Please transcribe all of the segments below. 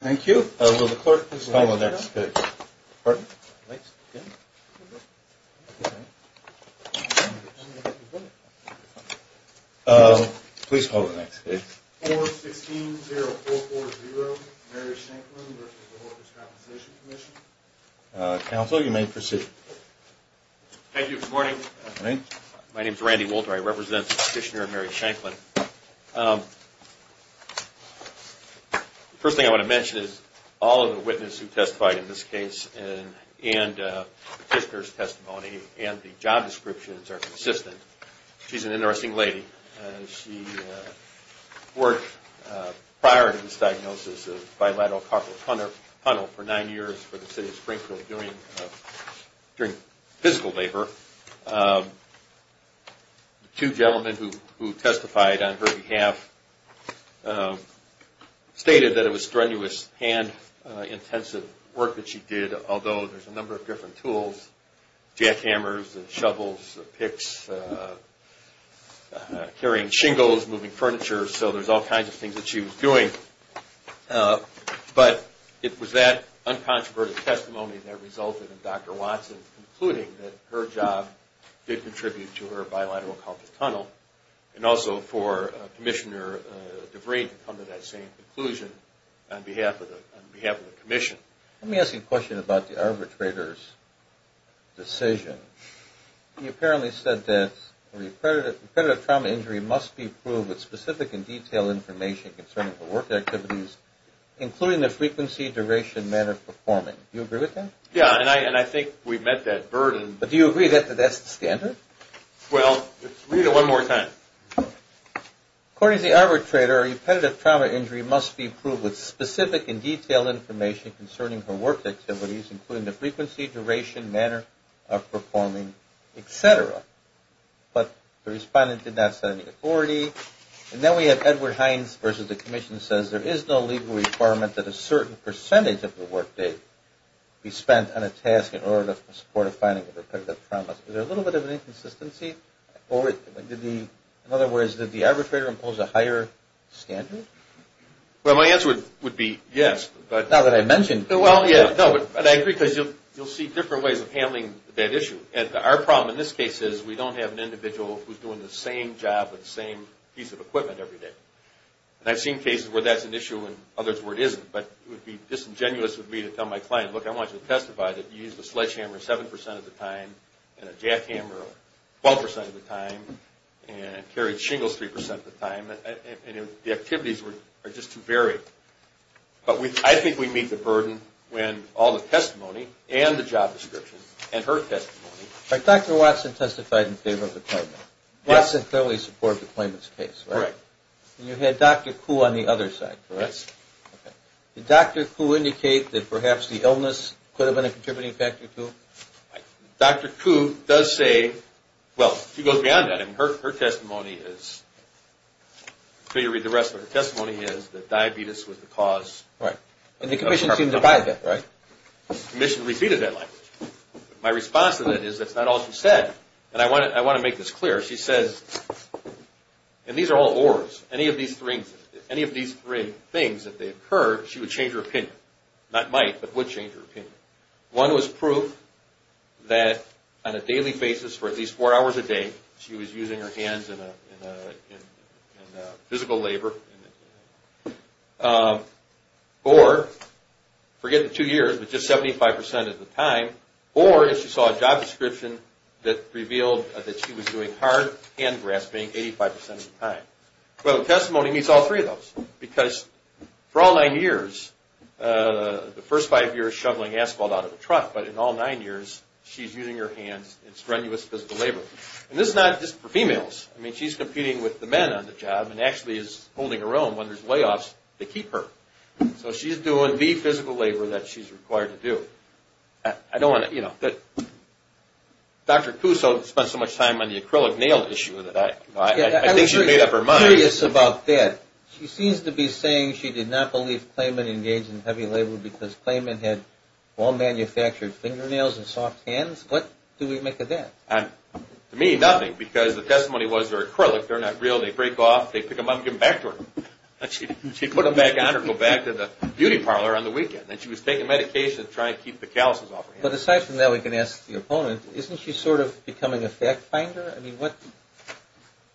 Thank you. Will the clerk please call the next case? Please call the next case. 4-16-0-4-4-0 Mary Shanklin v. Workers' Compensation Comm'n Counsel, you may proceed. Thank you. Good morning. Good morning. My name is Randy Walter. I represent the petitioner Mary Shanklin. The first thing I want to mention is all of the witnesses who testified in this case and the petitioner's testimony and the job descriptions are consistent. She's an interesting lady. She worked prior to this diagnosis of bilateral carpal tunnel for nine years for the city of Springfield during physical labor. Two gentlemen who testified on her behalf stated that it was strenuous, hand-intensive work that she did, although there's a number of different tools, jackhammers and shovels, picks, carrying shingles, moving furniture. So there's all kinds of things that she was doing. But it was that uncontroverted testimony that resulted in Dr. Watson concluding that her job did contribute to her bilateral carpal tunnel and also for Commissioner Devrain to come to that same conclusion on behalf of the commission. Let me ask you a question about the arbitrator's decision. He apparently said that a repetitive trauma injury must be proved with specific and detailed information concerning her work activities, including the frequency, duration, manner of performing. Do you agree with that? Yeah, and I think we've met that burden. But do you agree that that's the standard? Well, let's read it one more time. According to the arbitrator, a repetitive trauma injury must be proved with specific and detailed information concerning her work activities, including the frequency, duration, manner of performing, et cetera. But the respondent did not set any authority. And then we have Edward Hines versus the commission says there is no legal requirement that a certain percentage of the work date be spent on a task in order to support a finding of repetitive trauma. Is there a little bit of an inconsistency? In other words, did the arbitrator impose a higher standard? Well, my answer would be yes. Now that I mentioned it. Well, yeah, no, but I agree because you'll see different ways of handling that issue. And our problem in this case is we don't have an individual who's doing the same job with the same piece of equipment every day. And I've seen cases where that's an issue and others where it isn't. But it would be disingenuous of me to tell my client, look, I want you to testify that you used a sledgehammer 7% of the time and a jackhammer 12% of the time and carried shingles 3% of the time. The activities are just too varied. But I think we meet the burden when all the testimony and the job description and her testimony. But Dr. Watson testified in favor of the claimant. Watson clearly supported the claimant's case, right? Correct. And you had Dr. Kuh on the other side, correct? Yes. Did Dr. Kuh indicate that perhaps the illness could have been a contributing factor too? Dr. Kuh does say, well, she goes beyond that. Her testimony is, for you to read the rest of her testimony, is that diabetes was the cause. Right. And the commission seemed to buy that, right? The commission repeated that line. My response to that is that's not all she said. And I want to make this clear. She says, and these are all ors. Any of these three things, if they occur, she would change her opinion. Not might, but would change her opinion. One was proof that on a daily basis for at least four hours a day she was using her hands in physical labor. Or, forget the two years, but just 75% of the time. Or if she saw a job description that revealed that she was doing hard hand grasping 85% of the time. Well, the testimony meets all three of those. Because for all nine years, the first five years shoveling asphalt out of the truck. But in all nine years, she's using her hands in strenuous physical labor. And this is not just for females. I mean, she's competing with the men on the job and actually is holding her own when there's layoffs to keep her. So she's doing the physical labor that she's required to do. I don't want to, you know, Dr. Kuh spent so much time on the acrylic nail issue that I think she made up her mind. I'm curious about that. She seems to be saying she did not believe Clayman engaged in heavy labor because Clayman had all manufactured fingernails and soft hands. What do we make of that? To me, nothing. Because the testimony was they're acrylic. They're not real. They break off. They pick them up and give them back to her. She'd put them back on or go back to the beauty parlor on the weekend. And she was taking medication to try to keep the calluses off her hands. But aside from that, we can ask the opponent. Isn't she sort of becoming a fact finder? I mean, what?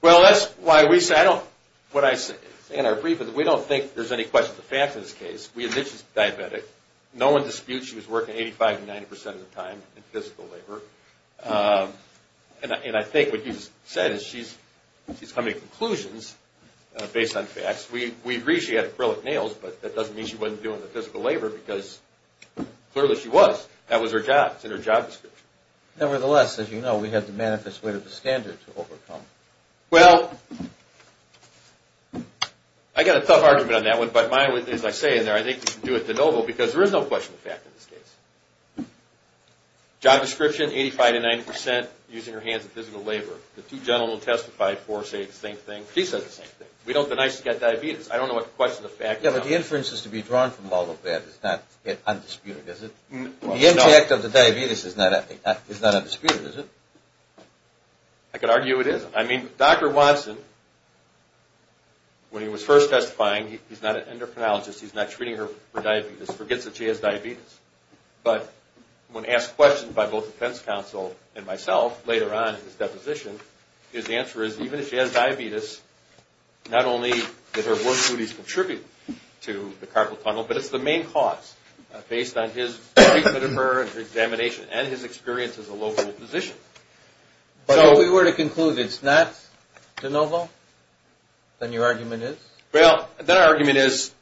Well, that's why we say I don't – what I say in our brief is we don't think there's any question of facts in this case. We admit she's diabetic. No one disputes she was working 85 to 90 percent of the time in physical labor. And I think what you just said is she's coming to conclusions based on facts. We agree she had acrylic nails, but that doesn't mean she wasn't doing the physical labor because clearly she was. That was her job. It's in her job description. Nevertheless, as you know, we have to manifest way to the standard to overcome. Well, I got a tough argument on that one, but as I say in there, I think we can do it de novo because there is no question of fact in this case. Job description, 85 to 90 percent using her hands in physical labor. The two gentlemen who testified before say the same thing. She says the same thing. We don't deny she's got diabetes. I don't know what the question of fact is. Yeah, but the inferences to be drawn from all of that is not yet undisputed, is it? The impact of the diabetes is not undisputed, is it? I could argue it is. I mean, Dr. Watson, when he was first testifying, he's not an endocrinologist. He's not treating her for diabetes. He forgets that she has diabetes. But when asked questions by both defense counsel and myself later on in this deposition, his answer is even if she has diabetes, not only did her work duties contribute to the carpal tunnel, but it's the main cause based on his treatment of her and her examination and his experience as a local physician. But if we were to conclude it's not de novo, then your argument is? Well, then our argument is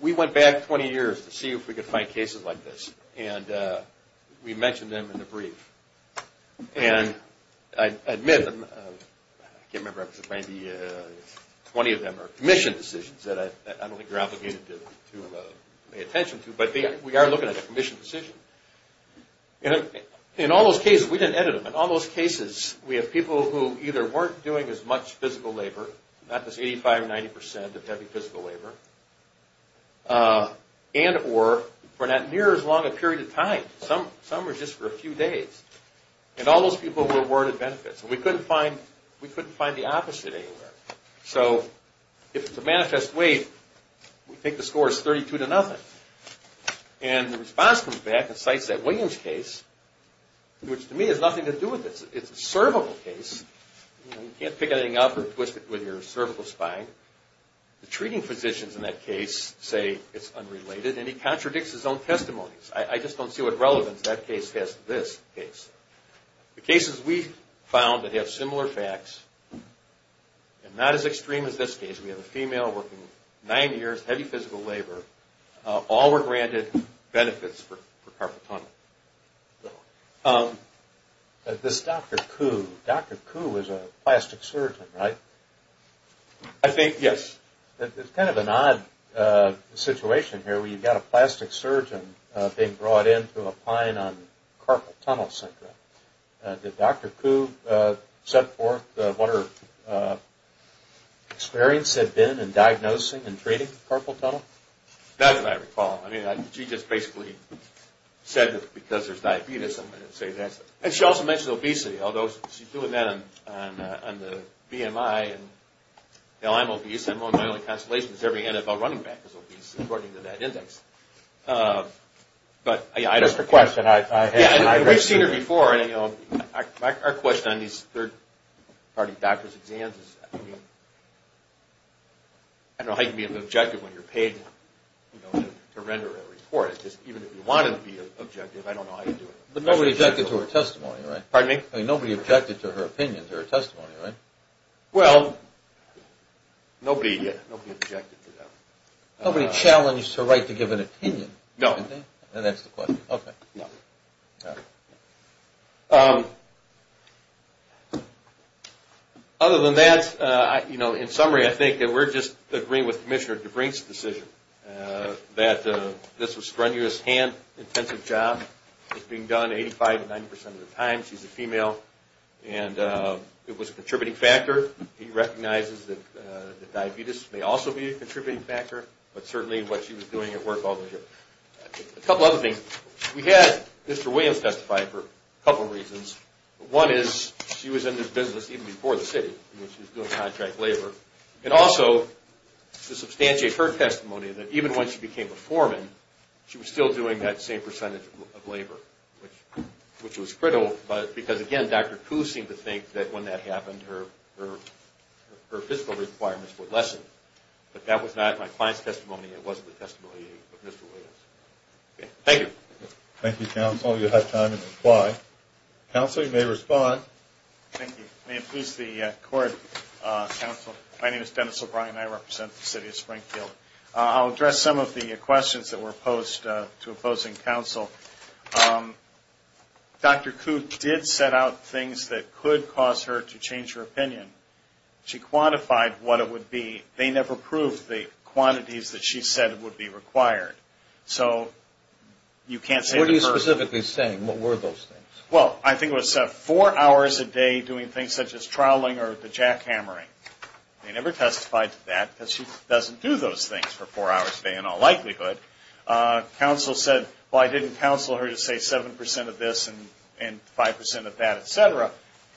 we went back 20 years to see if we could find cases like this, and we mentioned them in the brief. And I admit them. I can't remember. Twenty of them are commission decisions that I don't think you're obligated to pay attention to, but we are looking at a commission decision. In all those cases, we didn't edit them. In all those cases, we have people who either weren't doing as much physical labor, not this 85%, 90% of heavy physical labor, and or were not near as long a period of time. Some were just for a few days. And all those people were awarded benefits. And we couldn't find the opposite anywhere. So if it's a manifest weight, we think the score is 32 to nothing. And the response comes back and cites that Williams case, which to me has nothing to do with this. It's a cervical case. You can't pick anything up or twist it with your cervical spine. The treating physicians in that case say it's unrelated, and he contradicts his own testimonies. I just don't see what relevance that case has to this case. The cases we found that have similar facts and not as extreme as this case, we have a female working nine years, heavy physical labor. All were granted benefits for carpal tunnel. This Dr. Kuh. Dr. Kuh was a plastic surgeon, right? I think, yes. It's kind of an odd situation here where you've got a plastic surgeon being brought in to apply it on carpal tunnel syndrome. Did Dr. Kuh set forth what her experience had been in diagnosing and treating carpal tunnel? Not that I recall. I mean, she just basically said that because there's diabetes, I'm going to say that. And she also mentioned obesity, although she's doing that on the BMI. You know, I'm obese. My only consolation is every NFL running back is obese, according to that index. Just a question. We've seen her before. Our question on these third-party doctor's exams is, I don't know how you can be objective when you're paid to render a report. Even if you wanted to be objective, I don't know how you do it. But nobody objected to her testimony, right? Pardon me? Nobody objected to her opinion, to her testimony, right? Well, nobody objected to that. Nobody challenged her right to give an opinion. No. And that's the question. Okay. No. Other than that, you know, in summary, I think that we're just agreeing with Commissioner DeBrink's decision that this was a strenuous, hand-intensive job. It's being done 85 to 90 percent of the time. She's a female. And it was a contributing factor. He recognizes that diabetes may also be a contributing factor, but certainly what she was doing at work all those years. A couple other things. We had Mr. Williams testify for a couple of reasons. One is she was in this business even before the city when she was doing contract labor. And also, to substantiate her testimony, that even when she became a foreman, she was still doing that same percentage of labor, which was critical. Because, again, Dr. Kuh seemed to think that when that happened, her fiscal requirements would lessen. But that was not my client's testimony. It wasn't the testimony of Mr. Williams. Thank you. Thank you, Counsel. You'll have time to reply. Counsel, you may respond. Thank you. May it please the Court, Counsel, my name is Dennis O'Brien. I represent the City of Springfield. I'll address some of the questions that were posed to opposing counsel. Dr. Kuh did set out things that could cause her to change her opinion. She quantified what it would be. They never proved the quantities that she said would be required. So you can't say to her. What are you specifically saying? What were those things? Well, I think it was four hours a day doing things such as troweling or the jackhammering. They never testified to that because she doesn't do those things for four hours a day in all likelihood. Counsel said, well, I didn't counsel her to say 7% of this and 5% of that, et cetera.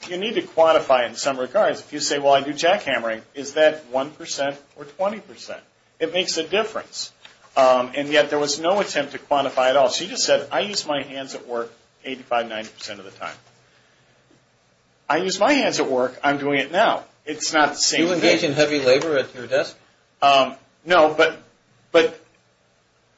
You need to quantify in some regards. If you say, well, I do jackhammering, is that 1% or 20%? It makes a difference. And yet there was no attempt to quantify at all. She just said, I use my hands at work 85%, 90% of the time. I use my hands at work. I'm doing it now. It's not the same thing. Do you engage in heavy labor at your desk? No, but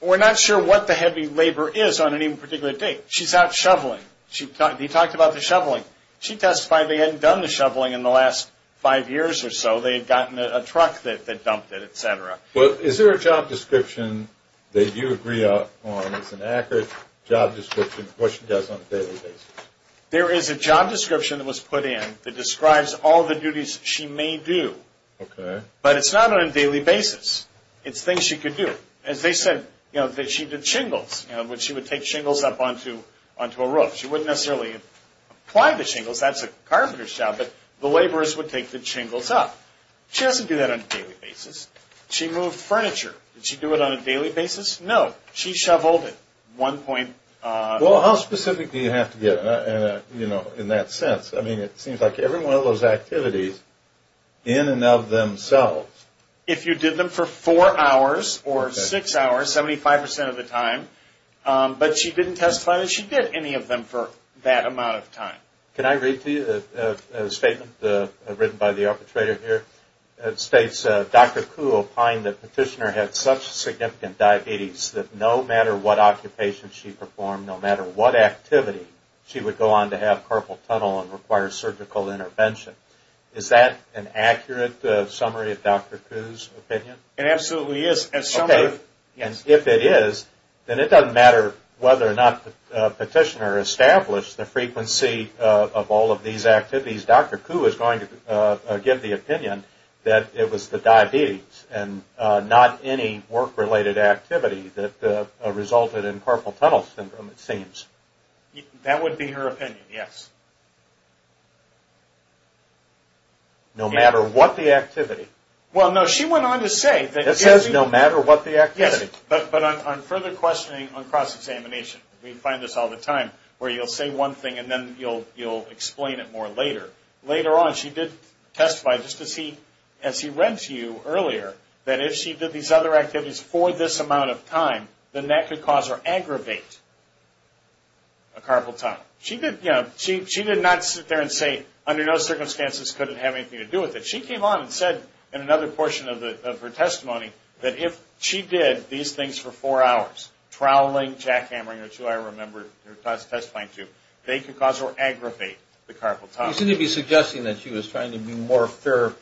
we're not sure what the heavy labor is on any particular date. She's out shoveling. She talked about the shoveling. She testified they hadn't done the shoveling in the last five years or so. They had gotten a truck that dumped it, et cetera. Well, is there a job description that you agree on as an accurate job description, what she does on a daily basis? There is a job description that was put in that describes all the duties she may do. Okay. But it's not on a daily basis. It's things she could do. As they said, she did shingles, which she would take shingles up onto a roof. She wouldn't necessarily apply the shingles. That's a carpenter's job, but the laborers would take the shingles up. She doesn't do that on a daily basis. She moved furniture. Did she do it on a daily basis? No. She shoveled it 1. Well, how specific do you have to get in that sense? I mean, it seems like every one of those activities in and of themselves. If you did them for four hours or six hours, 75% of the time. But she didn't testify that she did any of them for that amount of time. Can I read to you a statement written by the arbitrator here? It states, Dr. Kuhl opined that Petitioner had such significant diabetes that no matter what occupation she performed, no matter what activity, she would go on to have carpal tunnel and require surgical intervention. Is that an accurate summary of Dr. Kuhl's opinion? It absolutely is. If it is, then it doesn't matter whether or not Petitioner established the frequency of all of these activities. Dr. Kuhl was going to give the opinion that it was the diabetes and not any work-related activity that resulted in carpal tunnel syndrome, it seems. That would be her opinion, yes. No matter what the activity. Well, no, she went on to say that... It says no matter what the activity. Yes, but on further questioning on cross-examination, we find this all the time, where you'll say one thing and then you'll explain it more later. Later on, she did testify, just as he read to you earlier, that if she did these other activities for this amount of time, then that could cause or aggravate a carpal tunnel. She did not sit there and say, under no circumstances could it have anything to do with it. She came on and said, in another portion of her testimony, that if she did these things for four hours, troweling, jackhammering, or two, I remember her testifying to, they could cause or aggravate the carpal tunnel. You seem to be suggesting that she was trying to be more fair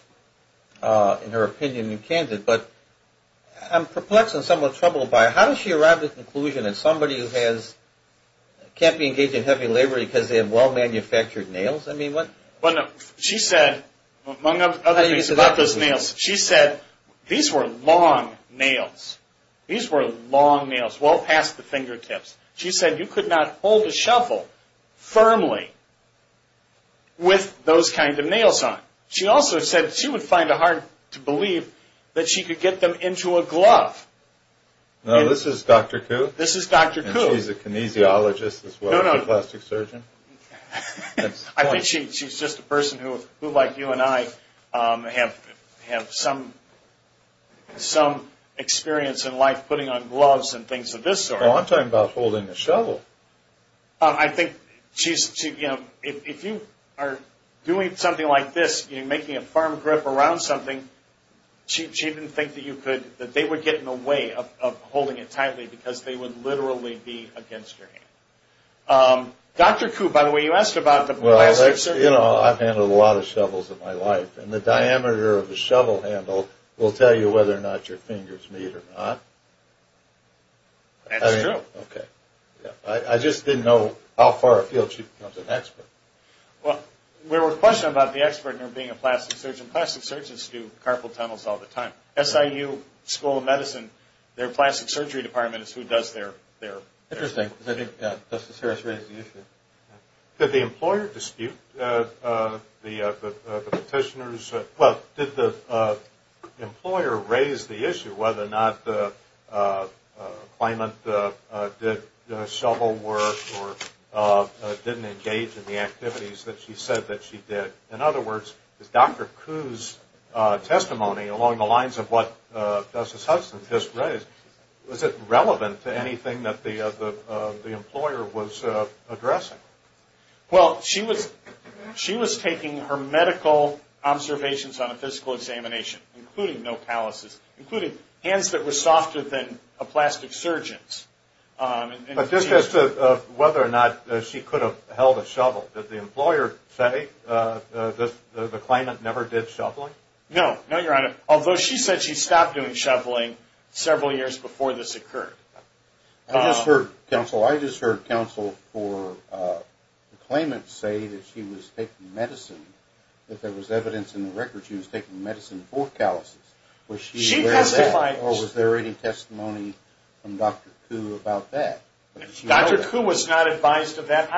in her opinion than candid, but I'm perplexed and somewhat troubled by it. How does she arrive at the conclusion that somebody who can't be engaged in heavy labor because they have well-manufactured nails? She said, among other things about those nails, she said, these were long nails. These were long nails, well past the fingertips. She said you could not hold a shuffle firmly with those kind of nails on. She also said she would find it hard to believe that she could get them into a glove. Now, this is Dr. Kuh. This is Dr. Kuh. And she's a kinesiologist as well as a plastic surgeon. I think she's just a person who, like you and I, have some experience in life putting on gloves and things of this sort. You know, I'm talking about holding a shovel. I think she's, you know, if you are doing something like this, you're making a firm grip around something, she didn't think that you could, that they would get in the way of holding it tightly because they would literally be against your hand. Dr. Kuh, by the way, you asked about the plastic surgeon. Well, you know, I've handled a lot of shovels in my life, and the diameter of the shovel handle will tell you whether or not your fingers meet or not. That's true. Okay. I just didn't know how far afield she becomes an expert. Well, we were questioning about the expert and her being a plastic surgeon. Plastic surgeons do carpal tunnels all the time. SIU School of Medicine, their plastic surgery department is who does their. Interesting. Justice Harris raised the issue. Did the employer dispute the petitioners? Well, did the employer raise the issue whether or not the claimant did shovel work or didn't engage in the activities that she said that she did? In other words, is Dr. Kuh's testimony along the lines of what Justice Hudson just raised, was it relevant to anything that the employer was addressing? Well, she was taking her medical observations on a physical examination, including nopalysis, including hands that were softer than a plastic surgeon's. But just as to whether or not she could have held a shovel, did the employer say that the claimant never did shoveling? No. No, Your Honor, although she said she stopped doing shoveling several years before this occurred. I just heard counsel for the claimant say that she was taking medicine, that there was evidence in the record she was taking medicine for calluses. Was she aware of that, or was there any testimony from Dr. Kuh about that? Dr. Kuh was not advised of that.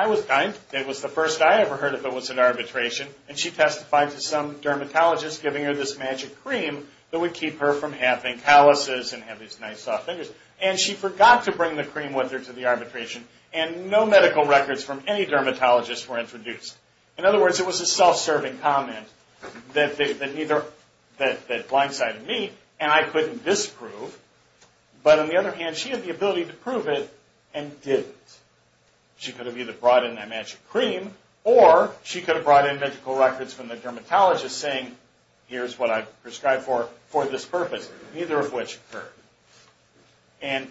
It was the first I ever heard of it was an arbitration, and she testified to some dermatologist giving her this magic cream that would keep her from having calluses and have these nice soft fingers. And she forgot to bring the cream with her to the arbitration, and no medical records from any dermatologist were introduced. In other words, it was a self-serving comment that blindsided me, and I couldn't disprove. But on the other hand, she had the ability to prove it and didn't. She could have either brought in that magic cream, or she could have brought in medical records from the dermatologist saying, here's what I've prescribed for this purpose, neither of which occurred. And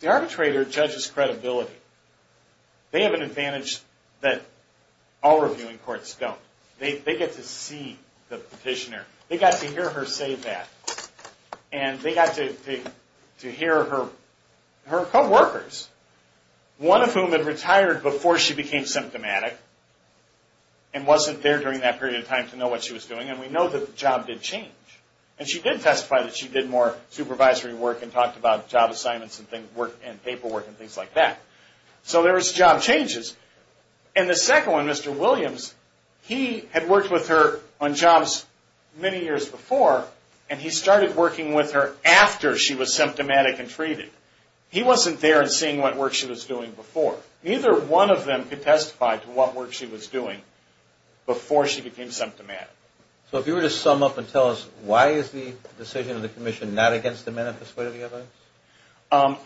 the arbitrator judges credibility. They have an advantage that all reviewing courts don't. They get to see the petitioner. They got to hear her say that. And they got to hear her coworkers, one of whom had retired before she became symptomatic and wasn't there during that period of time to know what she was doing. And we know that the job did change. And she did testify that she did more supervisory work and talked about job assignments and paperwork and things like that. So there was job changes. And the second one, Mr. Williams, he had worked with her on jobs many years before, and he started working with her after she was symptomatic and treated. He wasn't there and seeing what work she was doing before. Neither one of them could testify to what work she was doing before she became symptomatic. So if you were to sum up and tell us, why is the decision of the commission not against the manifest way of the evidence?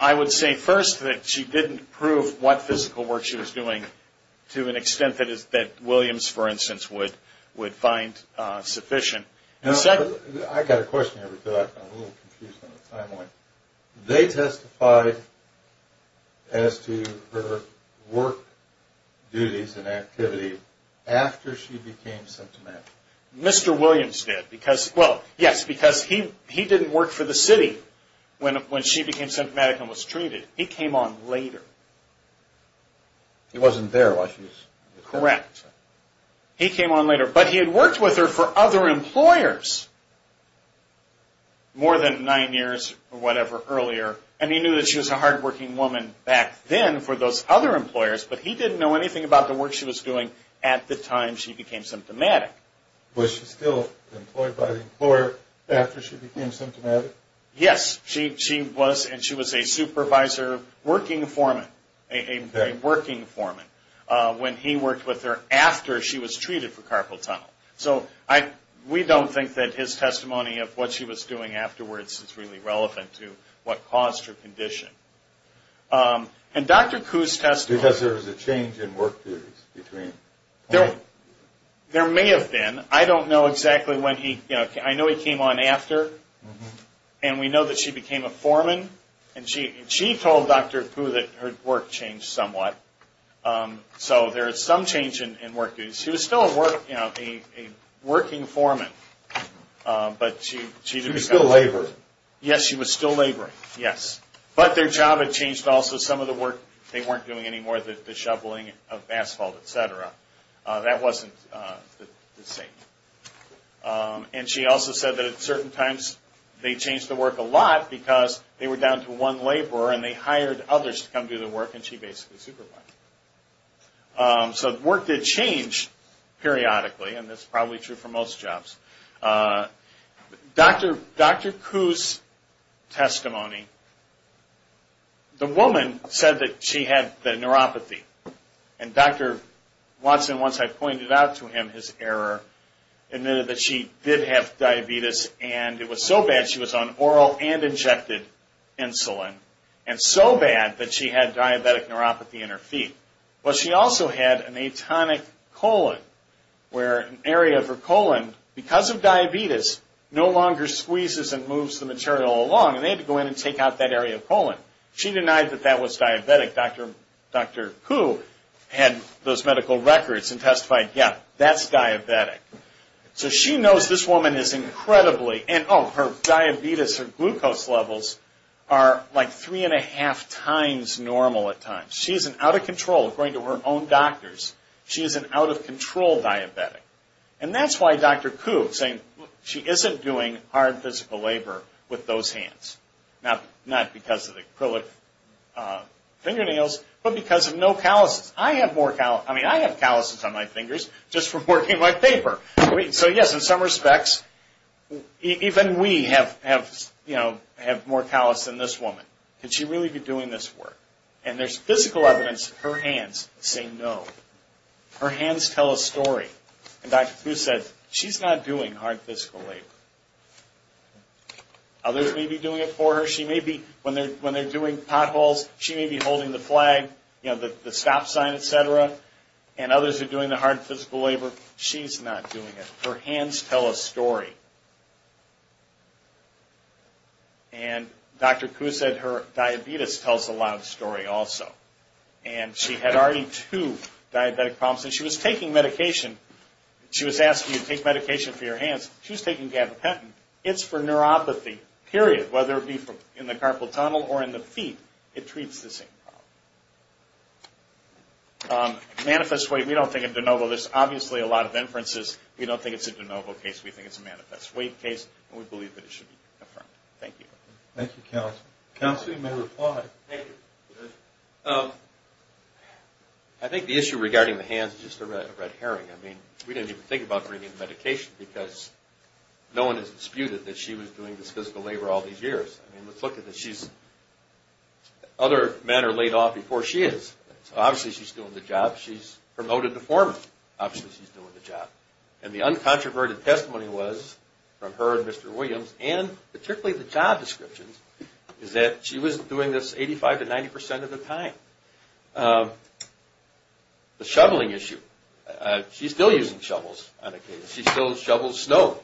I would say, first, that she didn't prove what physical work she was doing to an extent that Williams, for instance, would find sufficient. I've got a question here because I'm a little confused on the timeline. They testified as to her work duties and activity after she became symptomatic. Mr. Williams did. Well, yes, because he didn't work for the city when she became symptomatic and was treated. He came on later. He wasn't there while she was... Correct. He came on later. But he had worked with her for other employers more than nine years or whatever earlier, and he knew that she was a hardworking woman back then for those other employers, but he didn't know anything about the work she was doing at the time she became symptomatic. Was she still employed by the employer after she became symptomatic? Yes. She was, and she was a supervisor working foreman, a working foreman. When he worked with her after she was treated for carpal tunnel. So we don't think that his testimony of what she was doing afterwards is really relevant to what caused her condition. And Dr. Kuh's testimony... Because there was a change in work duties between... There may have been. I don't know exactly when he... I know he came on after, and we know that she became a foreman, and she told Dr. Kuh that her work changed somewhat. So there is some change in work duties. She was still a working foreman, but she... She was still laboring. Yes, she was still laboring, yes. But their job had changed also. Some of the work they weren't doing anymore, the shoveling of asphalt, etc. That wasn't the same. And she also said that at certain times they changed the work a lot because they were down to one laborer, and they hired others to come do the work, and she basically supervised it. So work did change periodically, and that's probably true for most jobs. Dr. Kuh's testimony... The woman said that she had the neuropathy. And Dr. Watson, once I pointed out to him his error, admitted that she did have diabetes, and it was so bad she was on oral and injected insulin, and so bad that she had diabetic neuropathy in her feet. But she also had an atonic colon, where an area of her colon, because of diabetes, no longer squeezes and moves the material along, and they had to go in and take out that area of colon. She denied that that was diabetic. Dr. Kuh had those medical records and testified, yes, that's diabetic. So she knows this woman is incredibly... And her diabetes or glucose levels are like three and a half times normal at times. She is out of control, according to her own doctors. She is an out-of-control diabetic. And that's why Dr. Kuh is saying she isn't doing hard physical labor with those hands. Not because of the acrylic fingernails, but because of no calluses. I have calluses on my fingers just from working my paper. So, yes, in some respects, even we have more callus than this woman. Could she really be doing this work? And there's physical evidence that her hands say no. Her hands tell a story. And Dr. Kuh said she's not doing hard physical labor. Others may be doing it for her. When they're doing potholes, she may be holding the flag. You know, the stop sign, et cetera. And others are doing the hard physical labor. She's not doing it. Her hands tell a story. And Dr. Kuh said her diabetes tells a loud story also. And she had already two diabetic problems. And she was taking medication. She was asking you to take medication for your hands. She was taking gabapentin. It's for neuropathy, period. Whether it be in the carpal tunnel or in the feet, it treats the same problem. Manifest weight, we don't think it's de novo. There's obviously a lot of inferences. We don't think it's a de novo case. We think it's a manifest weight case. And we believe that it should be confirmed. Thank you. Thank you, counsel. Counsel, you may reply. Thank you. I think the issue regarding the hands is just a red herring. I mean, we didn't even think about bringing medication because no one has disputed that she was doing this physical labor all these years. I mean, let's look at this. She's other manner laid off before she is. Obviously, she's doing the job. She's promoted to foreman. Obviously, she's doing the job. And the uncontroverted testimony was from her and Mr. Williams, and particularly the job descriptions, is that she was doing this 85% to 90% of the time. The shoveling issue, she's still using shovels on occasion. She still shovels snow.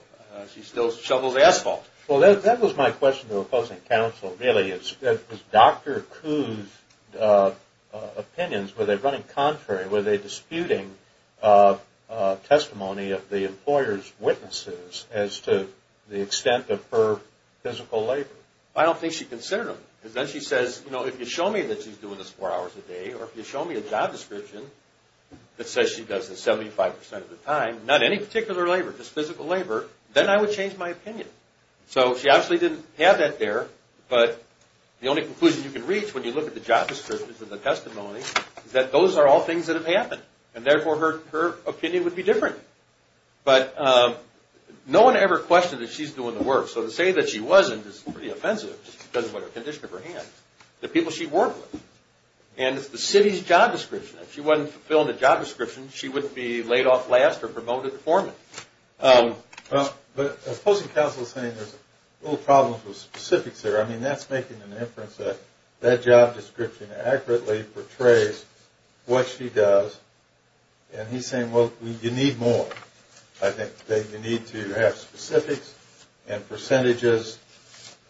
She still shovels asphalt. Well, that was my question to opposing counsel, really. Was Dr. Kuh's opinions, were they running contrary? Were they disputing testimony of the employer's witnesses as to the extent of her physical labor? I don't think she considered them. Because then she says, you know, if you show me that she's doing this four hours a day or if you show me a job description that says she does this 75% of the time, not any particular labor, just physical labor, then I would change my opinion. So she obviously didn't have that there. But the only conclusion you can reach when you look at the job descriptions and the testimony is that those are all things that have happened. And therefore, her opinion would be different. But no one ever questioned that she's doing the work. So to say that she wasn't is pretty offensive because of the condition of her hands. The people she worked with. And it's the city's job description. If she wasn't fulfilling the job description, she wouldn't be laid off last or promoted to foreman. But opposing counsel is saying there's a little problem with specifics there. I mean, that's making an inference that that job description accurately portrays what she does. And he's saying, well, you need more. I think you need to have specifics and percentages.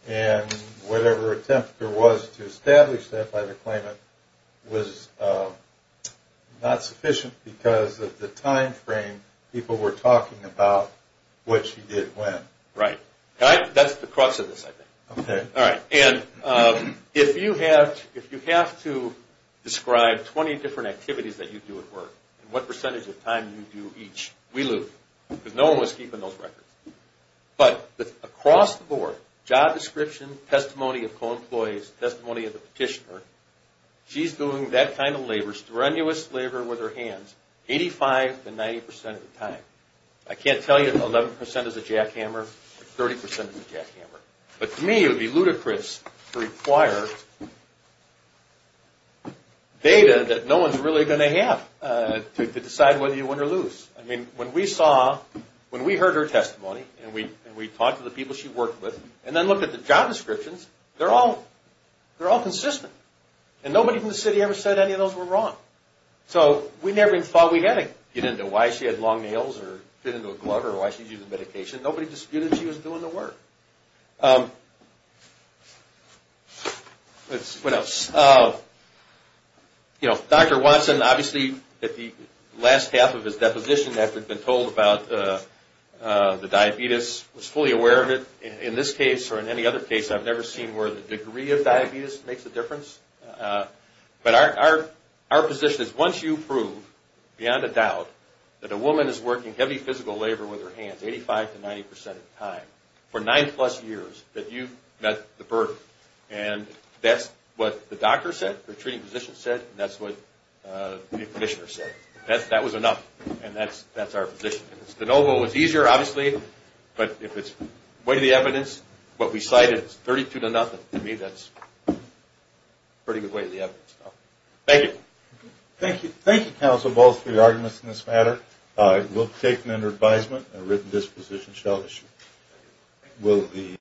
And whatever attempt there was to establish that by the claimant was not sufficient because of the time frame people were talking about what she did when. Right. That's the crux of this, I think. Okay. All right. And if you have to describe 20 different activities that you do at work and what percentage of time you do each, we lose. Because no one was keeping those records. But across the board, job description, testimony of co-employees, testimony of the petitioner, she's doing that kind of labor, strenuous labor with her hands, 85 to 90 percent of the time. I can't tell you if 11 percent is a jackhammer or 30 percent is a jackhammer. But to me, it would be ludicrous to require data that no one's really going to have to decide whether you win or lose. I mean, when we saw, when we heard her testimony and we talked to the people she worked with and then looked at the job descriptions, they're all consistent. And nobody from the city ever said any of those were wrong. So we never even thought we had to get into why she had long nails or fit into a glove or why she's using medication. Nobody disputed she was doing the work. What else? You know, Dr. Watson, obviously at the last half of his deposition after he'd been told about the diabetes, was fully aware of it. In this case or in any other case, I've never seen where the degree of diabetes makes a difference. But our position is once you prove beyond a doubt that a woman is working heavy physical labor with her hands, 85 to 90 percent of the time, for nine plus years, that you've met the burden. And that's what the doctor said, the treating physician said, and that's what the commissioner said. That was enough, and that's our position. The no vote was easier, obviously, but if it's weight of the evidence, what we cited is 32 to nothing. To me, that's a pretty good weight of the evidence. Thank you. Thank you, counsel, both for your arguments in this matter. We'll take them under advisement. A written disposition shall issue.